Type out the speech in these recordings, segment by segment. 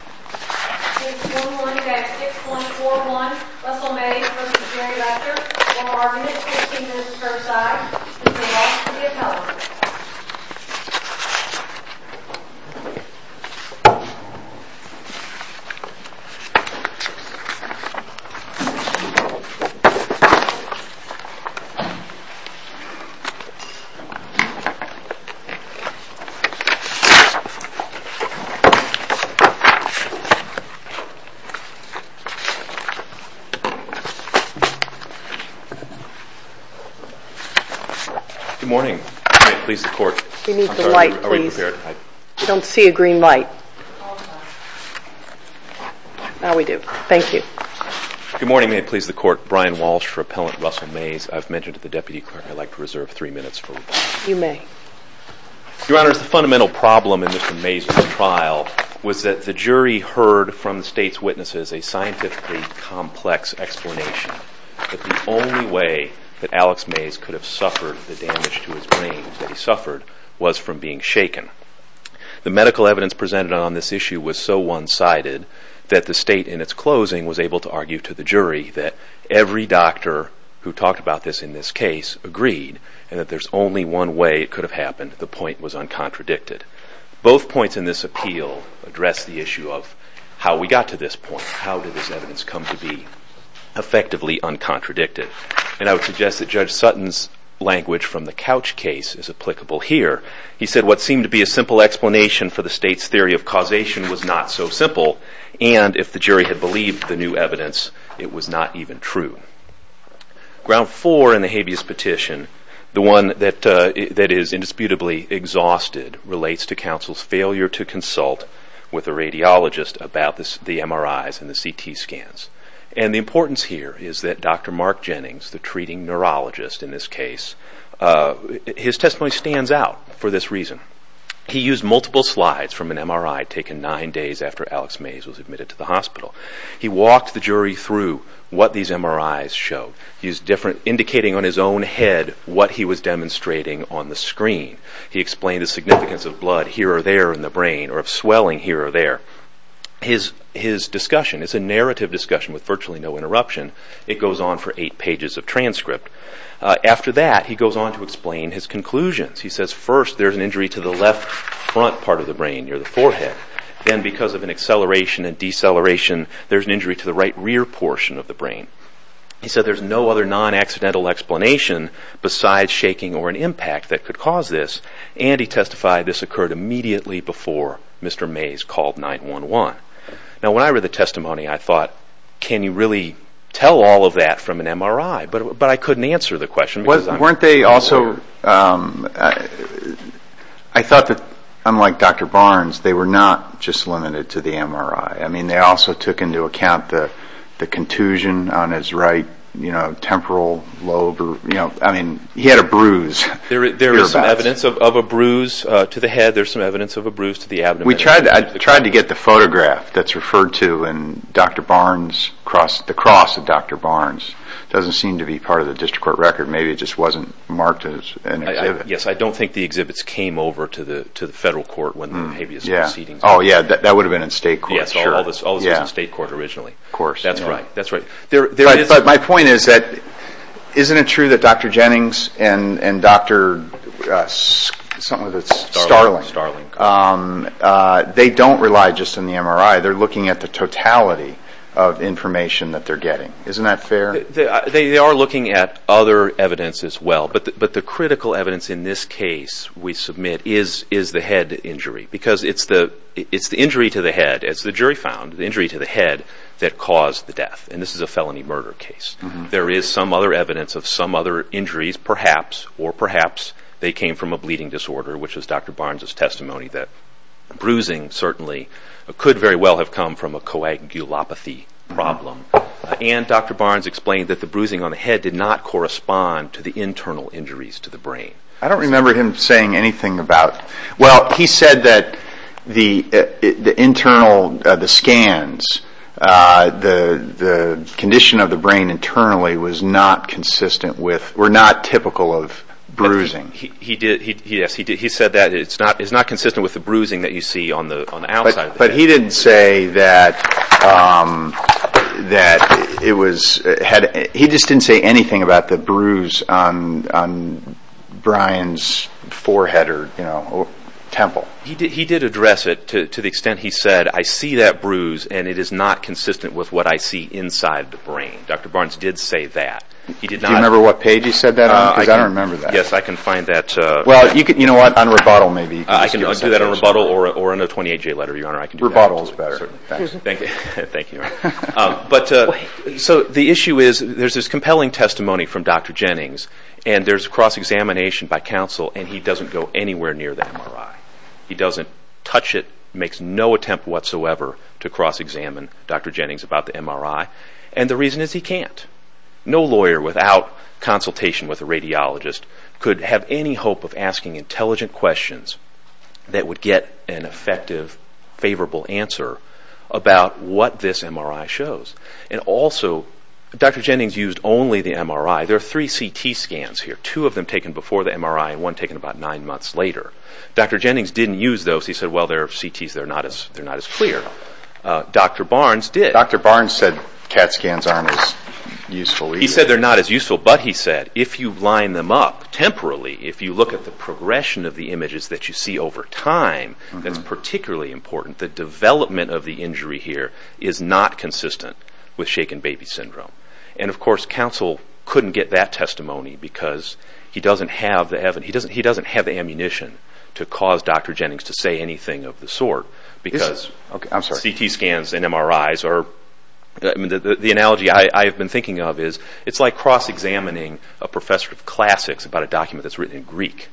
It's 1-1 at 6-1-4-1 Russell Maze v. Jerry Lester We are 1-15 minutes per side This is the last of the appellants Good morning. May it please the Court We need the light please I don't see a green light Now we do. Thank you Good morning. May it please the Court. Brian Walsh for Appellant Russell Maze I've mentioned to the Deputy Clerk I'd like to reserve 3 minutes for rebuttal You may Your Honors, the fundamental problem in Mr. Maze's trial was that the jury heard from the State's witnesses a scientifically complex explanation that the only way that Alex Maze could have suffered the damage to his brain that he suffered was from being shaken The medical evidence presented on this issue was so one-sided that the State in its closing was able to argue to the jury that every doctor who talked about this in this case agreed and that there's only one way it could have happened the point was uncontradicted Both points in this appeal address the issue of how we got to this point how did this evidence come to be effectively uncontradicted and I would suggest that Judge Sutton's language from the couch case is applicable here He said what seemed to be a simple explanation for the State's theory of causation was not so simple and if the jury had believed the new evidence it was not even true Ground 4 in the habeas petition the one that is indisputably exhausted relates to counsel's failure to consult with a radiologist about the MRIs and the CT scans and the importance here is that Dr. Mark Jennings, the treating neurologist in this case his testimony stands out for this reason He used multiple slides from an MRI taken 9 days after Alex Maze was admitted to the hospital He walked the jury through what these MRIs showed indicating on his own head what he was demonstrating on the screen He explained the significance of blood here or there in the brain or of swelling here or there His discussion is a narrative discussion with virtually no interruption It goes on for 8 pages of transcript After that he goes on to explain his conclusions He says first there's an injury to the left front part of the brain near the forehead Then because of an acceleration and deceleration there's an injury to the right rear portion of the brain He said there's no other non-accidental explanation besides shaking or an impact that could cause this and he testified this occurred immediately before Mr. Maze called 911 Now when I read the testimony I thought can you really tell all of that from an MRI? But I couldn't answer the question I thought that unlike Dr. Barnes they were not just limited to the MRI I mean they also took into account the contusion on his right temporal lobe I mean he had a bruise There is some evidence of a bruise to the head There's some evidence of a bruise to the abdomen I tried to get the photograph that's referred to in Dr. Barnes the cross of Dr. Barnes It doesn't seem to be part of the district court record Maybe it just wasn't marked as an exhibit Yes, I don't think the exhibits came over to the federal court Oh yeah, that would have been in state court Yes, all of this was in state court originally Of course That's right But my point is that isn't it true that Dr. Jennings and Dr. Starling they don't rely just on the MRI they're looking at the totality of information that they're getting Isn't that fair? They are looking at other evidence as well but the critical evidence in this case we submit is the head injury because it's the injury to the head as the jury found the injury to the head that caused the death and this is a felony murder case There is some other evidence of some other injuries perhaps or perhaps they came from a bleeding disorder which was Dr. Barnes' testimony that bruising certainly could very well have come from a coagulopathy problem and Dr. Barnes explained that the bruising on the head did not correspond to the internal injuries to the brain I don't remember him saying anything about Well, he said that the internal, the scans the condition of the brain internally was not consistent with were not typical of bruising He said that it's not consistent with the bruising that you see on the outside But he didn't say that it was He just didn't say anything about the bruise on Brian's forehead or temple He did address it to the extent he said I see that bruise and it is not consistent with what I see inside the brain Dr. Barnes did say that Do you remember what page he said that on? Because I don't remember that Yes, I can find that Well, you know what, on rebuttal maybe I can do that on rebuttal or on a 28-J letter, Your Honor Rebuttal is better Thank you So the issue is, there's this compelling testimony from Dr. Jennings and there's a cross-examination by counsel and he doesn't go anywhere near the MRI He doesn't touch it, makes no attempt whatsoever to cross-examine Dr. Jennings about the MRI and the reason is he can't No lawyer without consultation with a radiologist could have any hope of asking intelligent questions that would get an effective, favorable answer about what this MRI shows And also, Dr. Jennings used only the MRI There are three CT scans here Two of them taken before the MRI and one taken about nine months later Dr. Jennings didn't use those He said, well, they're CTs, they're not as clear Dr. Barnes did Dr. Barnes said CAT scans aren't as useful either He said they're not as useful But he said, if you line them up temporarily if you look at the progression of the images that you see over time that's particularly important the development of the injury here is not consistent with shaken baby syndrome And of course, counsel couldn't get that testimony because he doesn't have the ammunition to cause Dr. Jennings to say anything of the sort because CT scans and MRIs are the analogy I've been thinking of is it's like cross-examining a professor of classics about a document that's written in Greek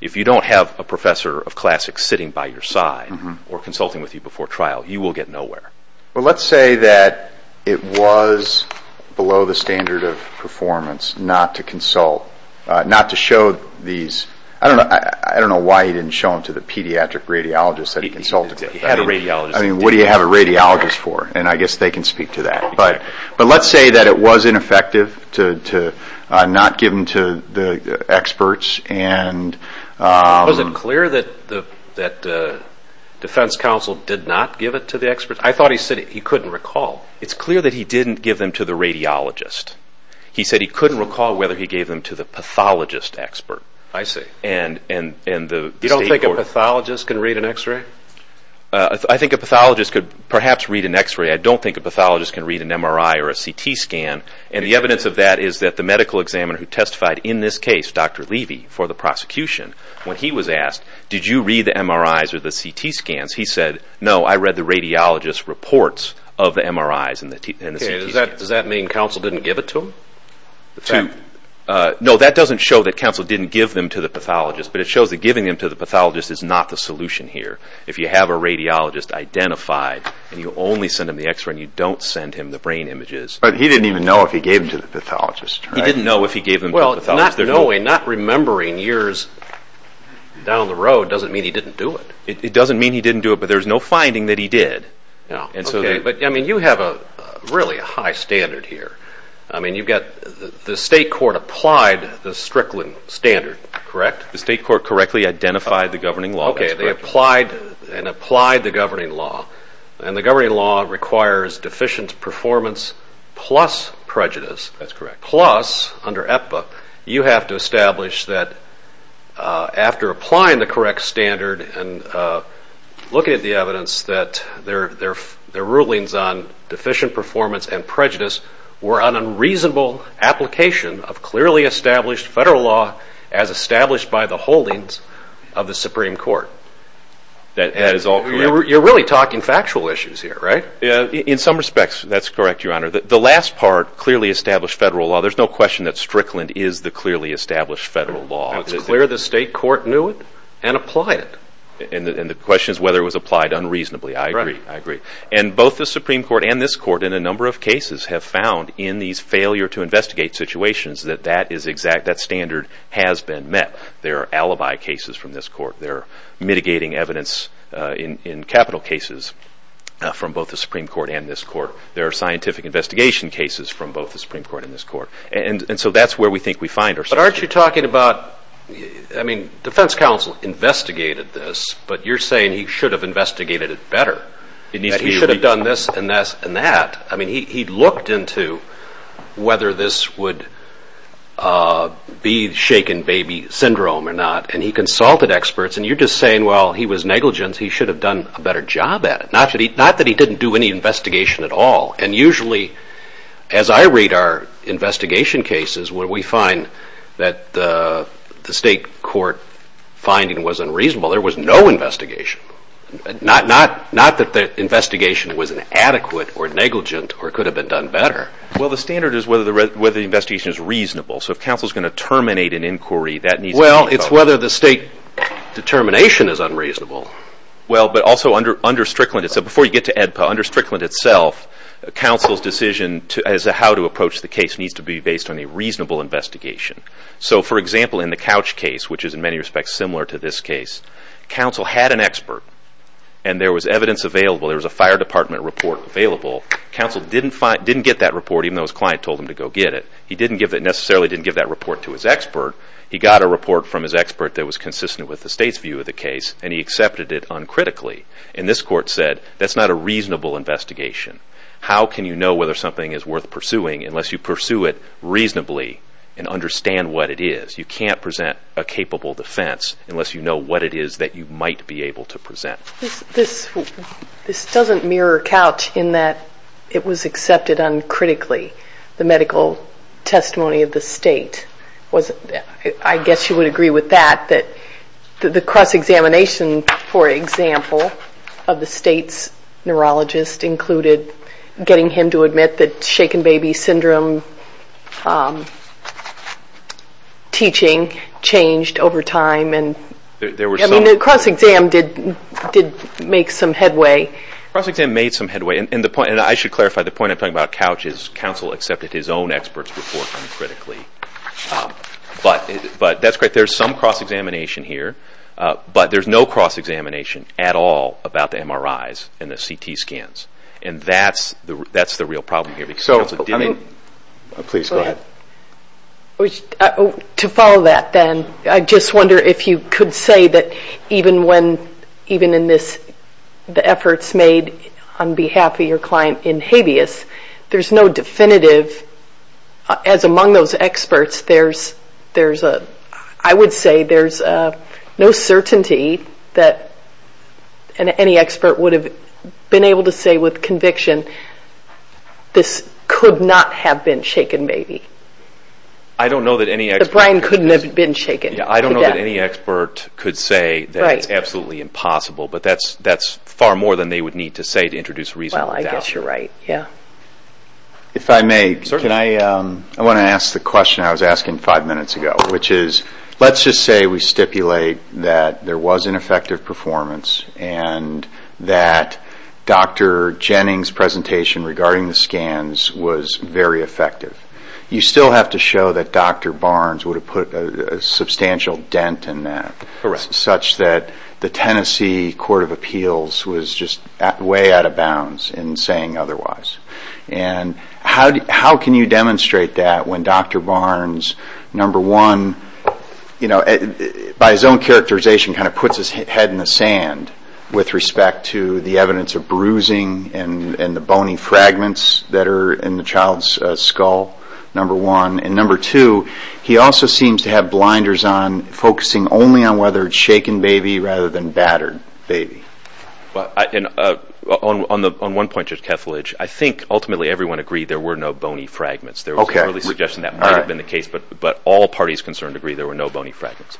If you don't have a professor of classics sitting by your side or consulting with you before trial you will get nowhere Well, let's say that it was below the standard of performance not to consult not to show these I don't know why he didn't show them to the pediatric radiologist that he consulted with He had a radiologist I mean, what do you have a radiologist for? And I guess they can speak to that But let's say that it was ineffective to not give them to the experts Was it clear that the defense counsel did not give it to the experts? I thought he said he couldn't recall It's clear that he didn't give them to the radiologist He said he couldn't recall whether he gave them to the pathologist expert I see You don't think a pathologist can read an x-ray? I think a pathologist could perhaps read an x-ray I don't think a pathologist can read an MRI or a CT scan And the evidence of that is that the medical examiner who testified in this case, Dr. Levy for the prosecution when he was asked did you read the MRIs or the CT scans he said, no, I read the radiologist's reports of the MRIs and the CT scans Does that mean counsel didn't give it to him? No, that doesn't show that counsel didn't give them to the pathologist But it shows that giving them to the pathologist is not the solution here If you have a radiologist identified and you only send him the x-ray and you don't send him the brain images But he didn't even know if he gave them to the pathologist He didn't know if he gave them to the pathologist Not knowing, not remembering years down the road doesn't mean he didn't do it It doesn't mean he didn't do it but there's no finding that he did You have a really high standard here The state court applied the Strickland standard, correct? The state court correctly identified the governing law Okay, they applied the governing law And the governing law requires deficient performance plus prejudice That's correct Plus, under EPPA, you have to establish that after applying the correct standard and looking at the evidence that their rulings on deficient performance and prejudice were an unreasonable application of clearly established federal law as established by the holdings of the Supreme Court That is all correct You're really talking factual issues here, right? In some respects, that's correct, your honor The last part, clearly established federal law There's no question that Strickland is the clearly established federal law It's clear the state court knew it and applied it And the question is whether it was applied unreasonably I agree And both the Supreme Court and this court in a number of cases have found in these failure to investigate situations that that standard has been met There are alibi cases from this court There are mitigating evidence in capital cases from both the Supreme Court and this court There are scientific investigation cases from both the Supreme Court and this court And so that's where we think we find ourselves But aren't you talking about I mean, defense counsel investigated this But you're saying he should have investigated it better That he should have done this and that I mean, he looked into whether this would be shaken baby syndrome or not And he consulted experts And you're just saying, well, he was negligent He should have done a better job at it Not that he didn't do any investigation at all And usually, as I read our investigation cases where we find that the state court finding was unreasonable There was no investigation Not that the investigation was inadequate or negligent or could have been done better Well, the standard is whether the investigation is reasonable So if counsel is going to terminate an inquiry Well, it's whether the state determination is unreasonable Well, but also under Strickland So before you get to AEDPA Under Strickland itself Counsel's decision as to how to approach the case needs to be based on a reasonable investigation So, for example, in the Couch case which is in many respects similar to this case Counsel had an expert And there was evidence available There was a fire department report available Counsel didn't get that report even though his client told him to go get it He necessarily didn't give that report to his expert He got a report from his expert that was consistent with the state's view of the case And he accepted it uncritically And this court said That's not a reasonable investigation How can you know whether something is worth pursuing unless you pursue it reasonably and understand what it is You can't present a capable defense unless you know what it is that you might be able to present This doesn't mirror Couch in that it was accepted uncritically the medical testimony of the state I guess you would agree with that that the cross-examination, for example of the state's neurologist included getting him to admit that shaken baby syndrome teaching changed over time The cross-exam did make some headway The cross-exam made some headway And I should clarify The point I'm talking about is that Couch's counsel accepted his own expert's report uncritically But there's some cross-examination here But there's no cross-examination at all about the MRIs and the CT scans And that's the real problem here To follow that then I just wonder if you could say that even in the efforts made on behalf of your client in habeas there's no definitive As among those experts I would say there's no certainty that any expert would have been able to say with conviction this could not have been shaken baby The brain couldn't have been shaken I don't know that any expert could say that it's absolutely impossible But that's far more than they would need to say to introduce reasonable doubt Well, I guess you're right, yeah If I may Certainly I want to ask the question I was asking five minutes ago Which is, let's just say we stipulate that there was an effective performance and that Dr. Jennings' presentation regarding the scans was very effective You still have to show that Dr. Barnes would have put a substantial dent in that Such that the Tennessee Court of Appeals was just way out of bounds in saying otherwise And how can you demonstrate that when Dr. Barnes, number one by his own characterization kind of puts his head in the sand with respect to the evidence of bruising and the bony fragments that are in the child's skull, number one And number two he also seems to have blinders on focusing only on whether it's shaken baby rather than battered baby On one point, Judge Kethledge I think ultimately everyone agreed there were no bony fragments There was an early suggestion that might have been the case But all parties concerned agree there were no bony fragments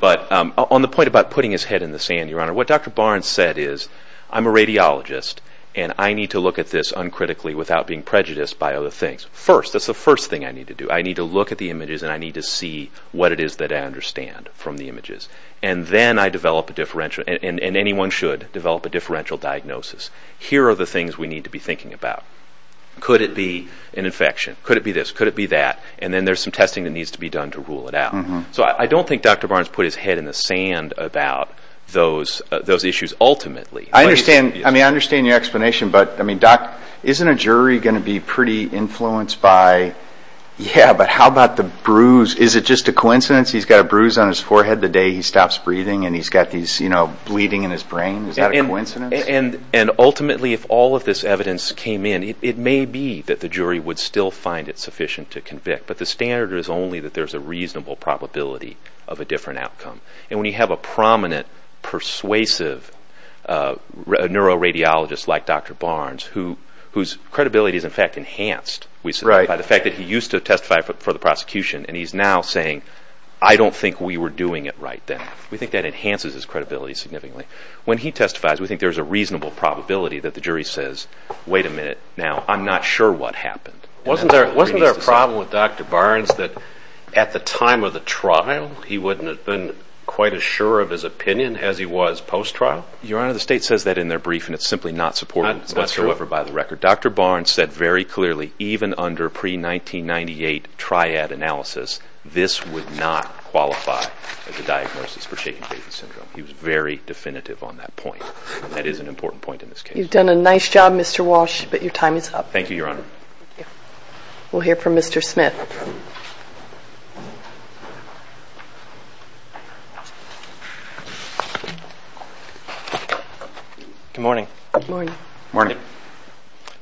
But on the point about putting his head in the sand what Dr. Barnes said is I'm a radiologist and I need to look at this uncritically without being prejudiced by other things First, that's the first thing I need to do I need to look at the images and I need to see what it is that I understand from the images And then I develop a differential and anyone should develop a differential diagnosis Here are the things we need to be thinking about Could it be an infection? Could it be this? Could it be that? And then there's some testing that needs to be done to rule it out So I don't think Dr. Barnes put his head in the sand about those issues ultimately I understand your explanation But isn't a jury going to be pretty influenced by Yeah, but how about the bruise? Is it just a coincidence he's got a bruise on his forehead the day he stops breathing and he's got these bleeding in his brain? Is that a coincidence? And ultimately if all of this evidence came in it may be that the jury would still find it sufficient to convict But the standard is only that there's a reasonable probability of a different outcome And when you have a prominent persuasive neuroradiologist like Dr. Barnes whose credibility is in fact enhanced by the fact that he used to testify for the prosecution and he's now saying I don't think we were doing it right then We think that enhances his credibility significantly When he testifies we think there's a reasonable probability that the jury says Wait a minute Now I'm not sure what happened Wasn't there a problem with Dr. Barnes that at the time of the trial he wouldn't have been quite as sure of his opinion as he was post-trial? Your Honor the state says that in their brief and it's simply not supported whatsoever by the record Dr. Barnes said very clearly even under pre-1998 triad analysis this would not qualify as a diagnosis for shaken baby syndrome He was very definitive on that point That is an important point in this case You've done a nice job Mr. Walsh but your time is up Thank you Your Honor We'll hear from Mr. Smith Thank you Good morning Good morning Good morning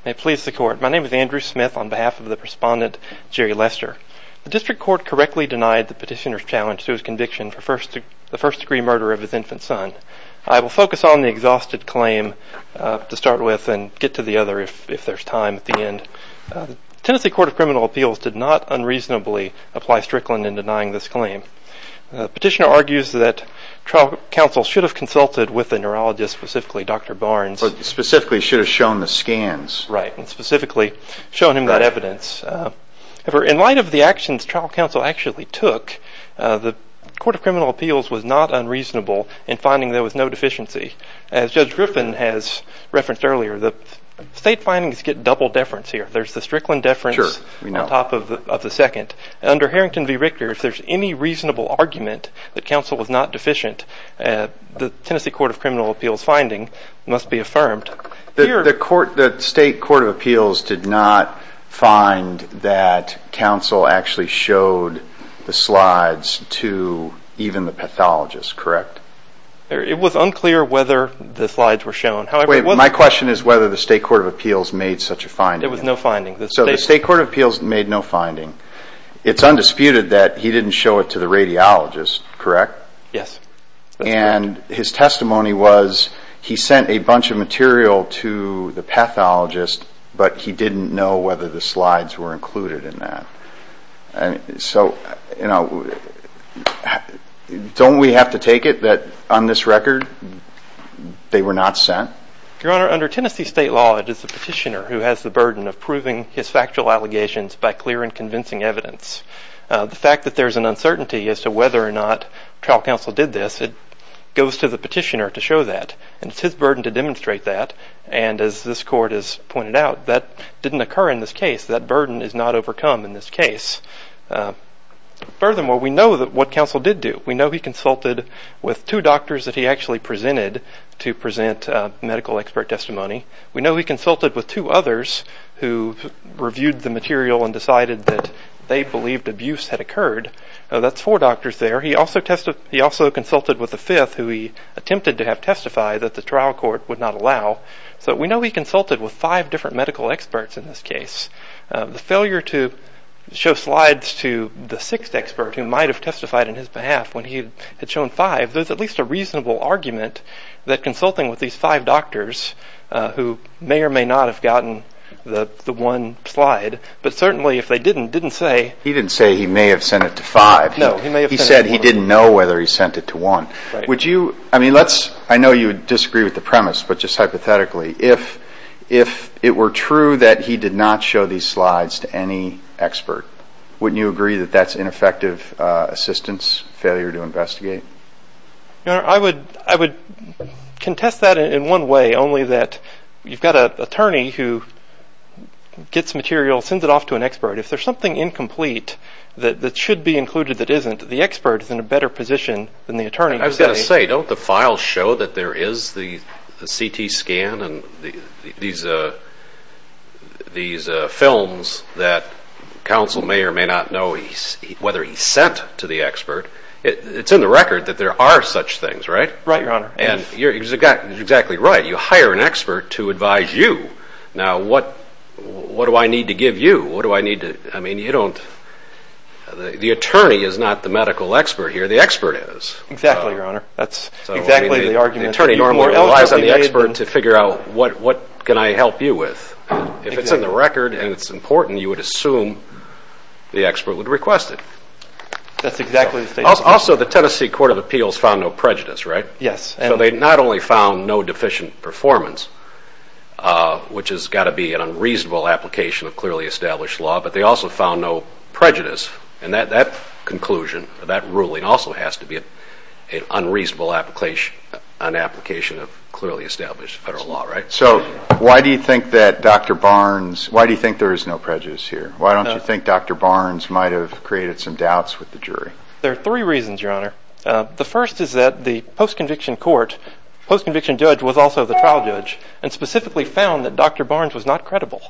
May it please the court My name is Andrew Smith on behalf of the respondent Jerry Lester The district court correctly denied the petitioner's challenge to his conviction for the first degree murder of his infant son I will focus on the exhausted claim to start with and get to the other if there's time at the end The Tennessee Court of Criminal Appeals did not unreasonably apply Strickland in denying this claim The petitioner argues that trial counsel should have consulted with the neurologist specifically Dr. Barnes But specifically should have shown the scans Right and specifically shown him that evidence In light of the actions trial counsel actually took the Court of Criminal Appeals was not unreasonable in finding there was no deficiency As Judge Griffin has referenced earlier the state findings get double deference here There's the Strickland deference on top of the second Under Harrington v. Richter if there's any reasonable argument that counsel was not deficient the Tennessee Court of Criminal Appeals finding must be affirmed The state Court of Appeals did not find that counsel actually showed the slides to even the pathologist correct? It was unclear whether the slides were shown My question is whether the state Court of Appeals made such a finding There was no finding So the state Court of Appeals made no finding It's undisputed that he didn't show it to the radiologist correct? Yes And his testimony was he sent a bunch of material to the pathologist but he didn't know whether the slides were included in that So don't we have to take it that on this record they were not sent? Your Honor under Tennessee state law it is the petitioner who has the burden of proving his factual allegations by clear and convincing evidence The fact that there is an uncertainty as to whether or not trial counsel did this it goes to the petitioner to show that and it's his burden to demonstrate that and as this court has pointed out that didn't occur in this case that burden is not overcome in this case Furthermore we know what counsel did do We know he consulted with two doctors that he actually presented to present medical expert testimony We know he consulted with two others who reviewed the material and decided that they believed abuse had occurred That's four doctors there He also consulted with a fifth who he attempted to have testify that the trial court would not allow So we know he consulted with five different medical experts in this case The failure to show slides to the sixth expert who might have testified on his behalf when he had shown five there's at least a reasonable argument that consulting with these five doctors who may or may not have gotten the one slide but certainly if they didn't didn't say He didn't say he may have sent it to five No He said he didn't know whether he sent it to one Would you I mean let's I know you disagree with the premise but just hypothetically if it were true that he did not show these slides to any expert wouldn't you agree that that's ineffective assistance failure to investigate? Your Honor I would I would contest that in one way only that you've got an attorney who gets material sends it off to an expert if there's something incomplete that should be included that isn't the expert is in a better position than the attorney I was going to say don't the files show that there is the CT scan and these films that counsel may or may not know whether he sent to the expert it's in the record that there are such things, right? Right, Your Honor You're exactly right you hire an expert to advise you now what what do I need to give you? What do I need to I mean, you don't the attorney is not the medical expert here the expert is Exactly, Your Honor that's exactly the argument the attorney relies on the expert to figure out what can I help you with if it's in the record and it's important you would assume the expert would request it that's exactly the statement also the Tennessee Court of Appeals found no prejudice, right? Yes so they not only found no deficient performance which has got to be an unreasonable application of clearly established law but they also found no prejudice and that conclusion that ruling also has to be an unreasonable application an application of clearly established federal law, right? So why do you think that Dr. Barnes why do you think there is no prejudice here? Why don't you think Dr. Barnes might have created some doubts with the jury? There are three reasons your honor the first is that the post-conviction court post-conviction judge was also the trial judge and specifically found that Dr. Barnes was not credible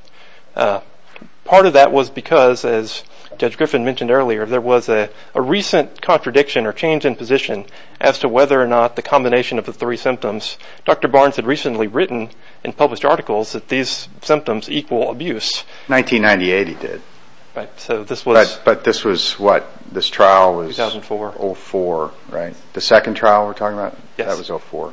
part of that was because as Judge Griffin mentioned earlier there was a recent contradiction or change in position as to whether or not the combination of the three symptoms Dr. Barnes had recently written in published articles that these symptoms equal abuse 1998 he did right so this was but this was what this trial 2004 2004 right the second trial we're talking about that was 04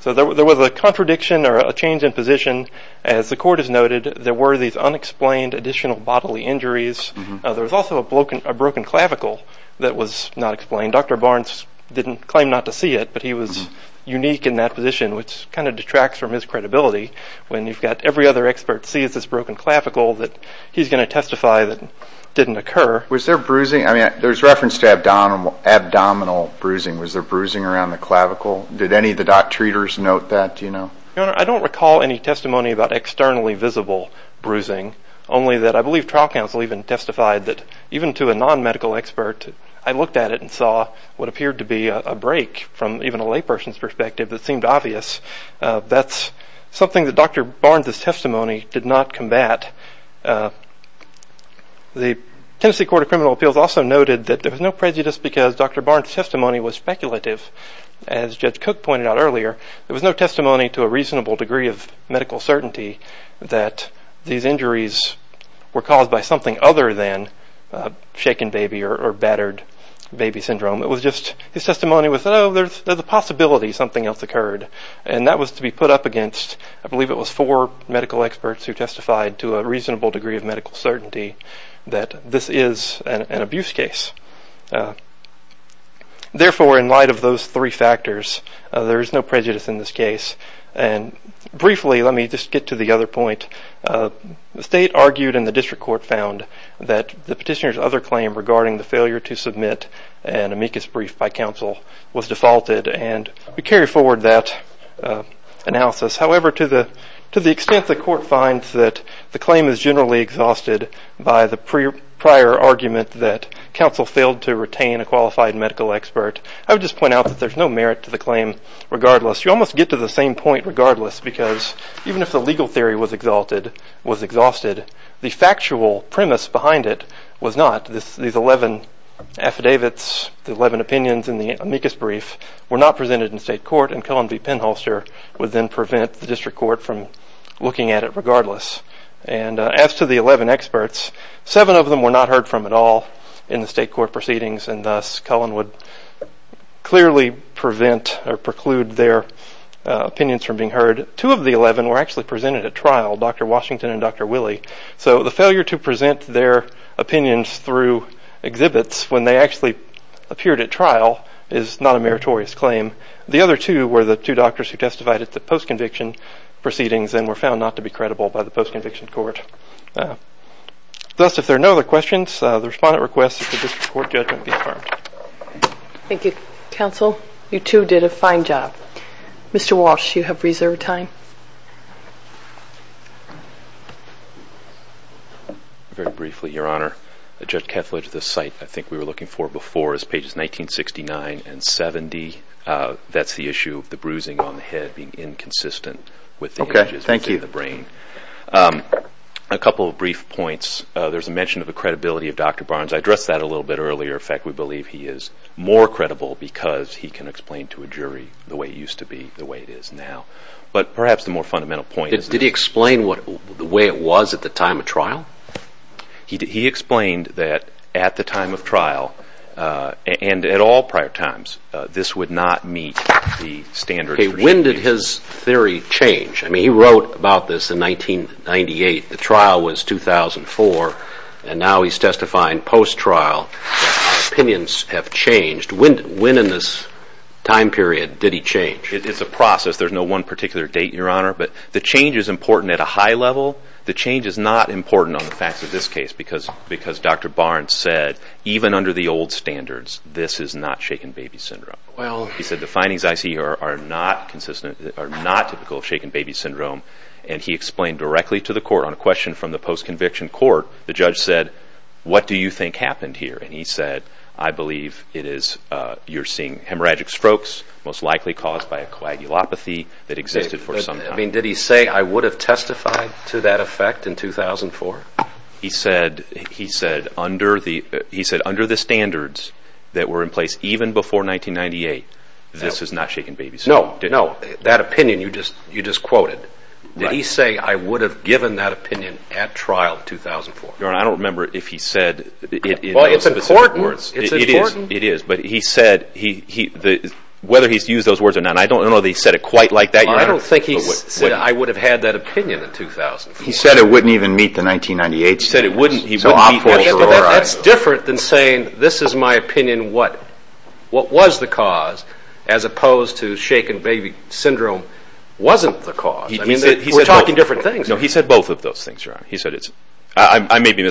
so there was a contradiction or a change in position as the court has noted there were these unexplained additional bodily injuries there was also a broken clavicle that was not explained Dr. Barnes didn't claim not to see it but he was unique in that position which kind of detracts from his credibility when you've got every other expert sees this broken clavicle that he's going to testify that didn't occur was there bruising I mean there's reference to abdominal bruising was there bruising around the clavicle did any of the doctors note that I don't recall any testimony about externally visible bruising only that I believe trial counsel even testified that even to a non-medical expert I looked at it and saw what appeared to be a break from even a lay person's perspective that seemed obvious that's something that Dr. Barnes's testimony did not combat the Tennessee Court of Criminal Appeals also noted that there was no prejudice because Dr. Barnes's testimony was speculative as Judge Cook pointed out earlier there was no testimony to a reasonable degree of medical certainty that these injuries were caused by something other than shaken baby or battered baby syndrome it was just his testimony was oh there's a possibility something else occurred and that was to be put up against I believe it was four medical experts who testified to a reasonable degree of medical certainty that this is an abuse case therefore in light of those three factors there is no prejudice in this case and briefly let me just get to the other point the state argued and the district court found that the petitioner's other claim regarding the failure to submit an amicus brief by counsel was defaulted and we carry forward that analysis however to the extent the court finds that the claim is generally exhausted by the prior argument that counsel failed to retain a qualified medical expert I would just point out that there's no merit to the claim regardless you almost get to the same point regardless because even if the legal theory was exalted was exhausted the factual premise behind it was not these eleven affidavits the eleven opinions in the amicus brief were not presented in state court and Cullen v. Penholster would then prevent the district court from looking at it regardless and as to the eleven experts seven of them were not heard from at all in the state court proceedings and thus Cullen would clearly prevent or preclude their opinions from being heard two of the eleven were actually presented at trial Dr. Washington and Dr. Willey so the failure to present their opinions through exhibits when they actually appeared at trial is not a meritorious claim the other two were the two doctors who testified at the post-conviction proceedings and were found not to be credible by the post-conviction court thus if there are no other questions the respondent requests that the district court judgment be affirmed thank you counsel you two did a fine job Mr. Walsh you have reserved time very briefly your honor Judge Kethledge the site I think we were looking for before is pages 1969 and 70 that's the issue of the bruising on the head being inconsistent with the images within the brain a couple of brief points there's a mention of the credibility of Dr. Barnes I addressed that a little bit earlier in fact we believe he is more credible because he can explain to a jury the way it used to be the way it is now but perhaps the more fundamental point did he explain the way it was at the time of trial he explained that at the time of trial and at all prior times this would not meet the standard when did his theory change I mean he wrote about this in 1998 the trial was 2004 and now he's testifying post-trial it's a process there's no one particular date your honor but the change in his opinion is a process there's no one particular date your honor but the change is important at a high level the change is not important on the facts of this case because Dr. Barnes said even under the old standards this is not shaken baby syndrome he said the findings I see here are not consistent are not typical of shaken baby syndrome and he explained directly to the court on a question from the post-conviction court the judge said what do you think happened here and he said I believe it is you're seeing hemorrhagic strokes most likely caused by a coagulopathy that existed for some time did he say I would have testified to that effect in 2004 he said he said under the he said under the standards that were in place even before 1998 this is not shaken baby syndrome no that opinion you just quoted did he say I would have given that opinion at trial in 2004 your honor I don't remember if he said well it's important it is but he said whether he used those words or not I don't know if he said it quite like that your honor I don't think he said I would have had that opinion in 2004 he said it wouldn't even meet the 1998 standards it's different than saying this is my opinion what was the cause as opposed to shaken baby syndrome wasn't the cause we're talking different things he said both of those things your honor I may be I may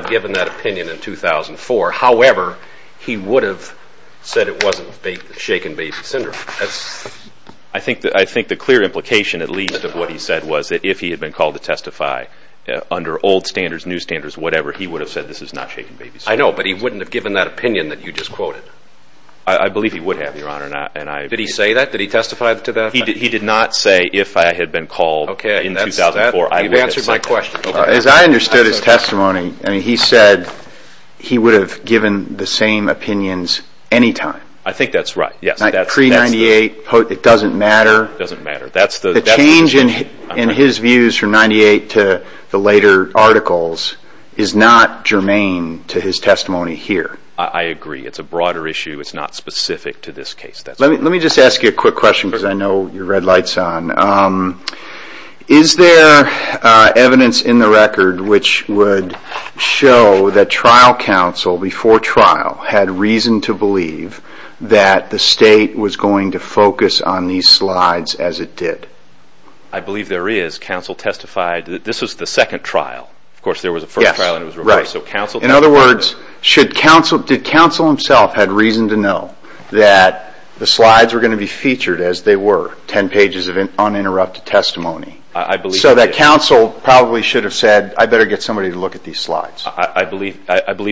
have given that opinion in 2004 however he would have said it wasn't shaken baby syndrome I think the clear implication at least of what he said was that if he had been called to testify under old standards new standards whatever he would have said this is not shaken baby syndrome I know but he wouldn't have given that opinion that you just quoted I believe he would have your honor did he say that did he testify to that he did not say if I had been called in 2004 you've answered my question as I understood his testimony he said he would have given the same opinions anytime I think that's right pre-98 it doesn't matter the change in his views from 98 to the later articles is not germane to his testimony here I agree it's a broader issue it's not specific to this case let me just ask you a quick question I know you're red lights on is there evidence in the record which would show that trial counsel before trial had reason to believe that the state was going to focus on these slides as it did I believe there is counsel testified this is the second trial there was a first trial in other words did counsel himself had reason to know that the slides were going to be featured as they were 10 pages of uninterrupted testimony so that counsel probably should have said I better get someone to look at these slides I believe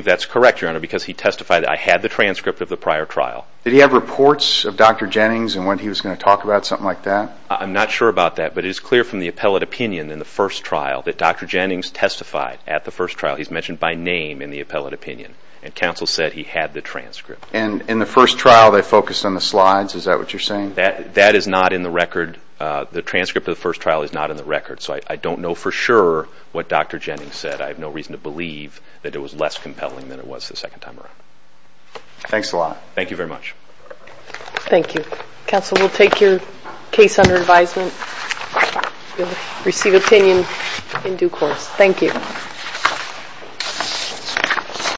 that's clear from the appellate opinion in the first trial that Dr. Jennings testified at the first trial he's mentioned by name in the appellate opinion and counsel said he had the transcript and in the first trial they focused on the slides is that what you're saying that is not in the record the transcript of the first trial is not in the record and I believe that counsel will receive opinion in due course thank you